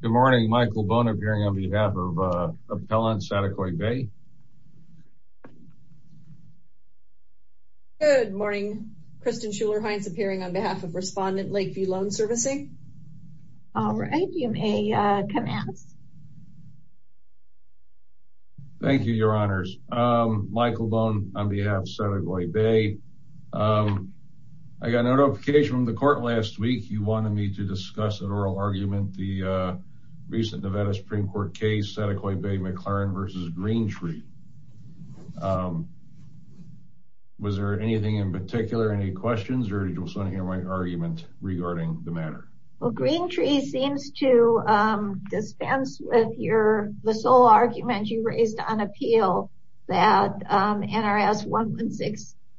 Good morning, Michael Bone appearing on behalf of Appellant Saticoy Bay. Good morning, Kristen Schuler-Hines appearing on behalf of Respondent Lakeview Loan Servicing. All right, you may commence. Thank you, your honors. Michael Bone on behalf of Saticoy Bay. I got a notification from the argument, the recent Nevada Supreme Court case, Saticoy Bay McLaren versus Greentree. Was there anything in particular, any questions or did you just want to hear my argument regarding the matter? Well, Greentree seems to dispense with your, the sole argument you raised on appeal that NRS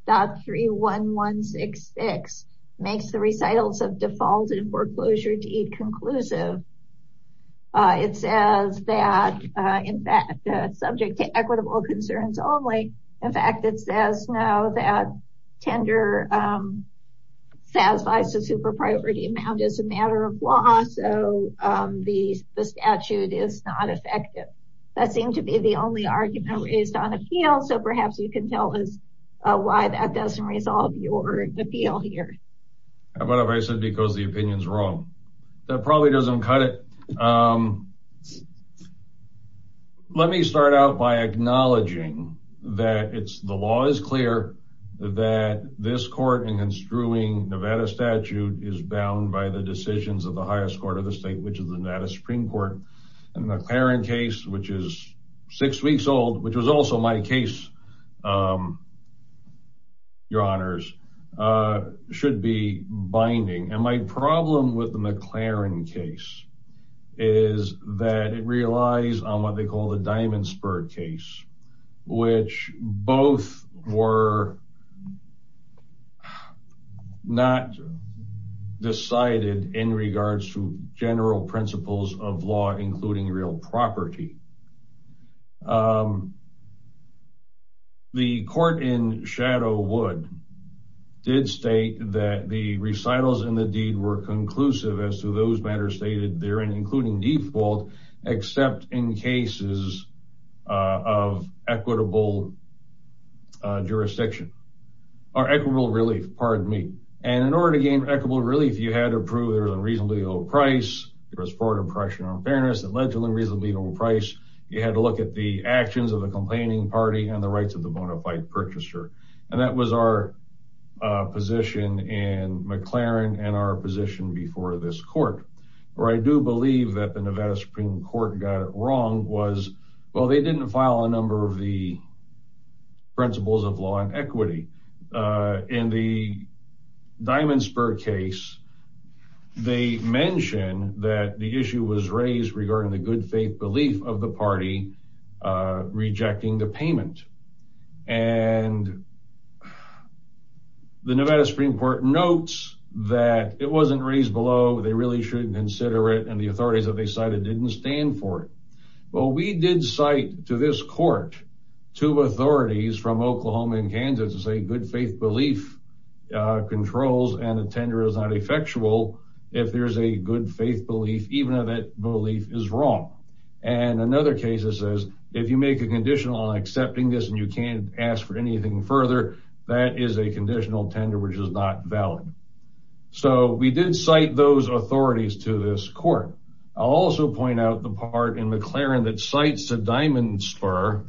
116.31166 makes the recitals of defaulted foreclosure deed conclusive. It says that, in fact, subject to equitable concerns only. In fact, it says now that tender satisfies the super priority amount as a matter of law, so the statute is not effective. That the only argument raised on appeal, so perhaps you can tell us why that doesn't resolve your appeal here. What if I said because the opinion is wrong? That probably doesn't cut it. Let me start out by acknowledging that the law is clear that this court in construing Nevada statute is bound by the decisions of the highest court of the state, which is the Nevada Supreme Court. And the McLaren case, which is six weeks old, which was also my case, your honors, should be binding. And my problem with the McLaren case is that it relies on what they call the diamond spur case, which both were not decided in regards to general principles of law, including real property. The court in Shadow Wood did state that the recitals in the deed were conclusive as to those matters stated therein, including default, except in cases of equitable jurisdiction, or equitable relief, pardon me. And in order to gain equitable relief, you had to prove there was a reasonably low price, there was fraud impression on fairness, allegedly reasonably low price. You had to look at the actions of the complaining party and the rights of the bona fide purchaser. And that was our position in McLaren and our position before this court. Where I do believe that the Nevada Supreme Court got it wrong was, well, they didn't file a number of the principles of law and equity. In the diamond spur case, they mention that the issue was raised regarding the good faith belief of the party rejecting the payment. And the Nevada Supreme Court notes that it wasn't raised below, they really shouldn't consider it, the authorities that they cited didn't stand for it. Well, we did cite to this court, two authorities from Oklahoma and Kansas to say good faith belief controls and a tender is not effectual if there's a good faith belief, even if that belief is wrong. And another case says, if you make a condition on accepting this and you can't ask for anything further, that is a conditional tender, which is not valid. So we did cite those authorities to this court. I'll also point out the part in McLaren that cites a diamond spur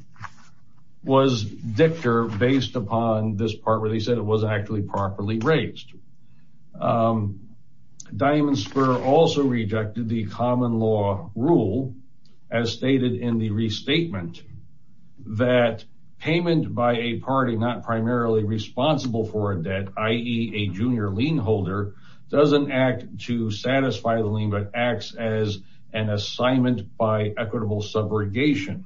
was dictor based upon this part where they said it was actually properly raised. Diamond spur also rejected the common law rule as stated in the i.e. a junior lien holder doesn't act to satisfy the lien but acts as an assignment by equitable subrogation.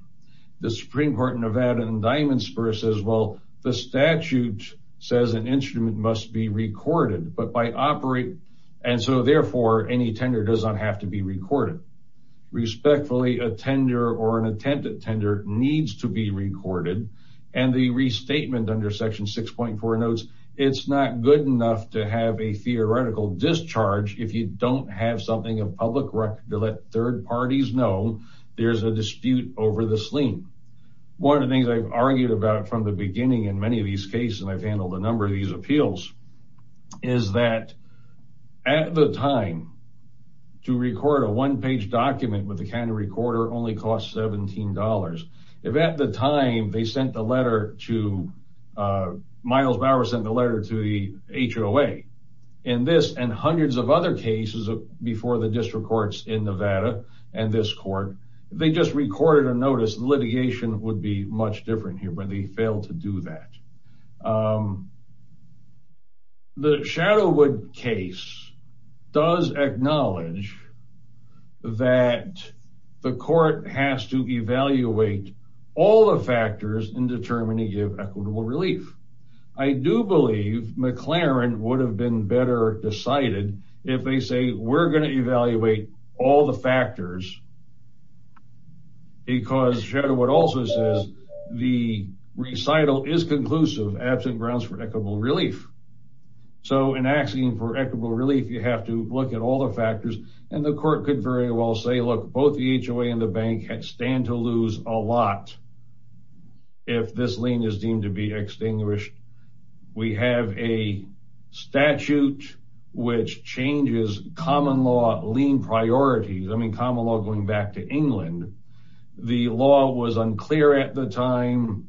The Supreme Court in Nevada and diamond spur says, well, the statute says an instrument must be recorded, but by operate, and so therefore any tender does not have to be recorded. Respectfully, a tender or an attempted tender needs to be recorded. And the restatement under section 6.4 notes, it's not good enough to have a theoretical discharge if you don't have something of public record to let third parties know there's a dispute over this lien. One of the things I've argued about from the beginning in many of these cases, and I've handled a number of these appeals, is that at the time to record a one-page document with the kind of recorder only costs $17. If at the time they sent the letter to, Miles Bauer sent the letter to the HOA, in this and hundreds of other cases before the district courts in Nevada and this court, they just recorded a notice. Litigation would be much different here, but they failed to do that. The Shadowood case does acknowledge that the court has to evaluate all the factors and determine to give equitable relief. I do believe McLaren would have been better decided if they say, we're going to evaluate all the factors because Shadowood also says the recital is conclusive absent grounds for equitable relief. So in asking for equitable relief, you have to look at all the factors and the court could very well say, look, both the HOA and the bank stand to lose a lot if this lien is deemed to be extinguished. We have a statute which changes common law lien priorities. I mean, common law going back to England, the law was unclear at the time,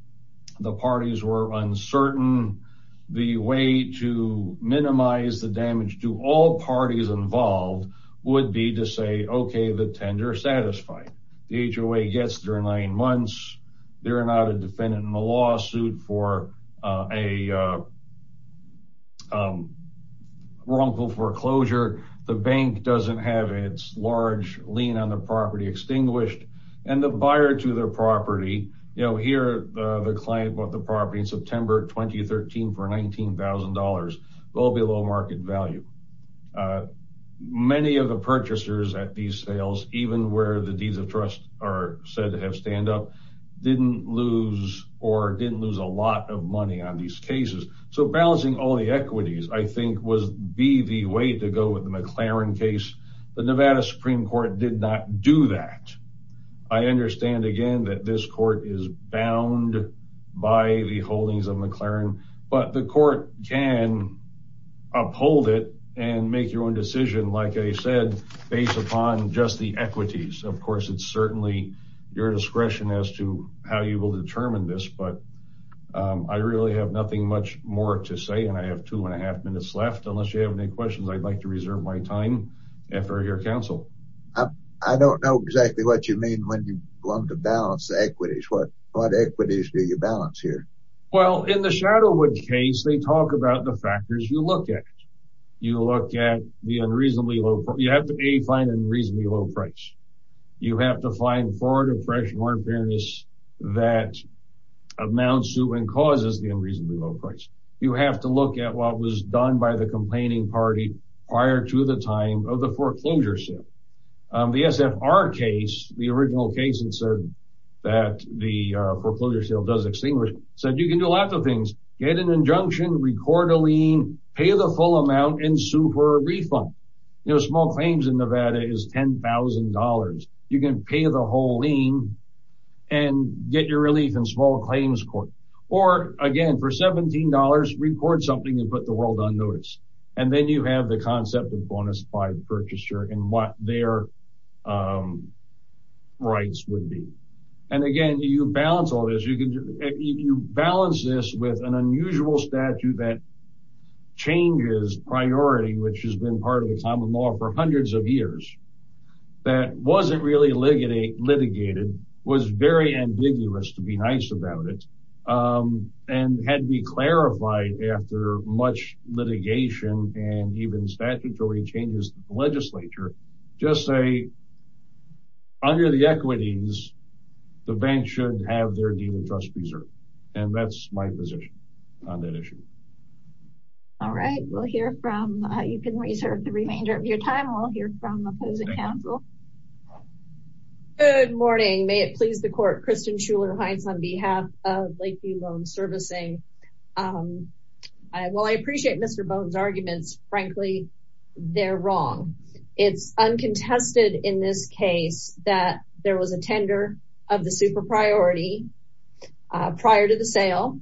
the parties were uncertain. The way to minimize the damage to all parties involved would be to say, okay, the tender satisfied. The HOA gets their nine months. They're not a defendant in the lawsuit for a wrongful foreclosure. The bank doesn't have its large lien on the property extinguished and the buyer to their property, here the client bought the property in September 2013 for $19,000 will be low market value. Many of the purchasers at these sales, even where the deeds of trust are said to have stand up, didn't lose or didn't lose a lot of money on these cases. So balancing all the equities, I think would be the way to go with the McLaren case. The Nevada Supreme Court did not do that. I understand again, that this court is bound by the holdings of McLaren, but the court can uphold it and make your own decision. Like I said, based upon just the equities, of course, it's certainly your discretion as to how you will determine this, but I really have nothing much more to say. And I have two and a half minutes left. Unless you have any questions, I'd like to reserve my time for your counsel. I don't know exactly what you mean when you want to balance the equities. What equities do you balance here? Well, in the Shadowwood case, they talk about the factors you look at. You look at the unreasonably low, you have to find an unreasonably low price. You have to find fraud, oppression or unfairness that amounts to and was done by the complaining party prior to the time of the foreclosure sale. The SFR case, the original case that the foreclosure sale does extinguish, said you can do lots of things. Get an injunction, record a lien, pay the full amount and sue for a refund. You know, small claims in Nevada is $10,000. You can pay the whole lien and get your relief in small claims or again for $17, record something and put the world on notice. And then you have the concept of bonus by the purchaser and what their rights would be. And again, you balance all this. You balance this with an unusual statute that changes priority, which has been part of the common law for hundreds of years. That wasn't really litigated, was very ambiguous to be nice about it and had to be clarified after much litigation and even statutory changes to the legislature. Just say, under the equities, the bank should have their deed of trust preserved. And that's my position on that issue. All right, we'll hear from, you can reserve the remainder of your time. We'll hear from opposing counsel. Good morning. May it please the court, Kristen Schuler-Hines on behalf of Lakeview Loan Servicing. Well, I appreciate Mr. Bone's arguments. Frankly, they're wrong. It's uncontested in this case that there was a tender of the super priority prior to the sale.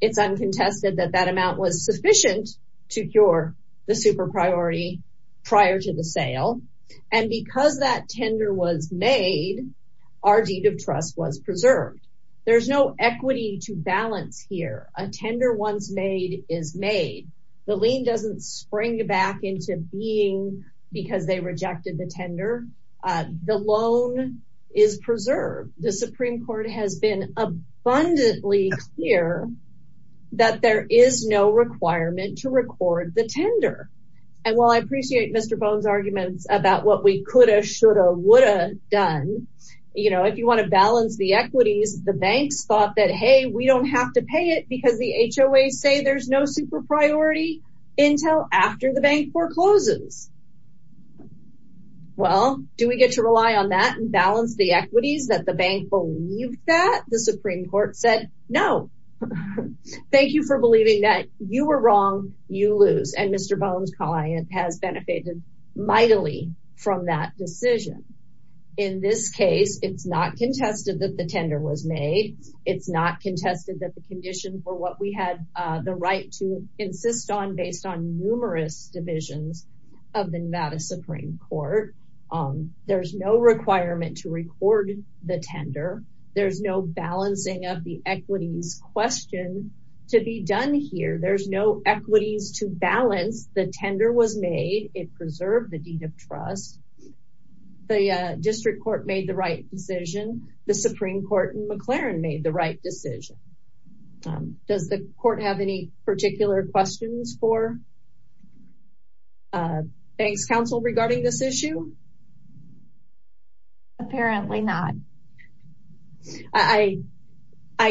It's uncontested that that amount was sufficient to cure the super There's no equity to balance here. A tender once made is made. The lien doesn't spring back into being because they rejected the tender. The loan is preserved. The Supreme Court has been abundantly clear that there is no requirement to record the tender. And while I appreciate Mr. Bone's equities, the banks thought that, hey, we don't have to pay it because the HOA say there's no super priority until after the bank forecloses. Well, do we get to rely on that and balance the equities that the bank believed that? The Supreme Court said, no. Thank you for believing that. You were wrong. You lose. And Mr. Bone's client has benefited mightily from that decision. In this case, it's not contested that the tender was made. It's not contested that the condition for what we had the right to insist on based on numerous divisions of the Nevada Supreme Court. There's no requirement to record the tender. There's no balancing of the equities question to be done here. There's no equities to balance. The tender was made. It preserved the deed of district court made the right decision. The Supreme Court and McLaren made the right decision. Does the court have any particular questions for banks counsel regarding this issue? Apparently not. I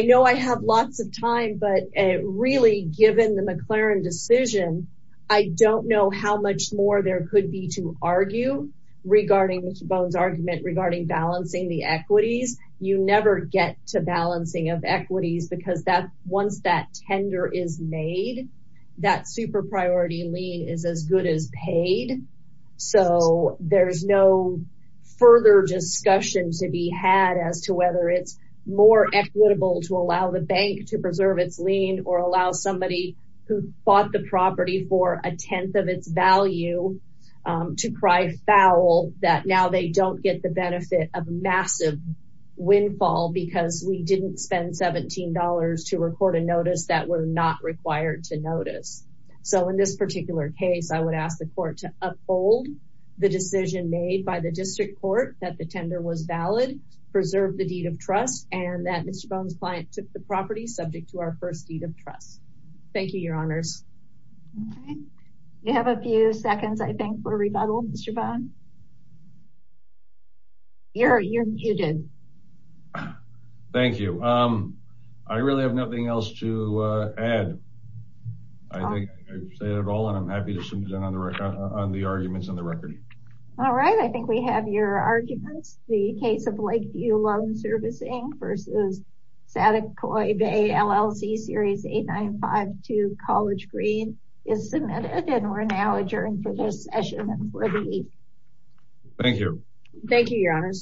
know I have lots of time, but really given the McLaren decision, I don't know how much more there could be to argue regarding Mr. Bone's argument regarding balancing the equities. You never get to balancing of equities because once that tender is made, that super priority lien is as good as paid. So there's no further discussion to be had as to whether it's more equitable to allow the bank to preserve its lien or allow somebody who bought the for a 10th of its value to cry foul that now they don't get the benefit of massive windfall because we didn't spend $17 to record a notice that we're not required to notice. So in this particular case, I would ask the court to uphold the decision made by the district court that the tender was valid, preserve the deed of trust and that Mr. Bone's client took the Thank you, your honors. Okay. You have a few seconds, I think for rebuttal, Mr. Bone. You're muted. Thank you. I really have nothing else to add. I think I've said it all and I'm happy to sit down on the record on the arguments on the record. All right. I think we have your arguments. The case of Lakeview Loan Servicing versus Saticoy Bay LLC Series 8952 College Green is submitted and we're now adjourned for this session and for the week. Thank you. Thank you, your honors.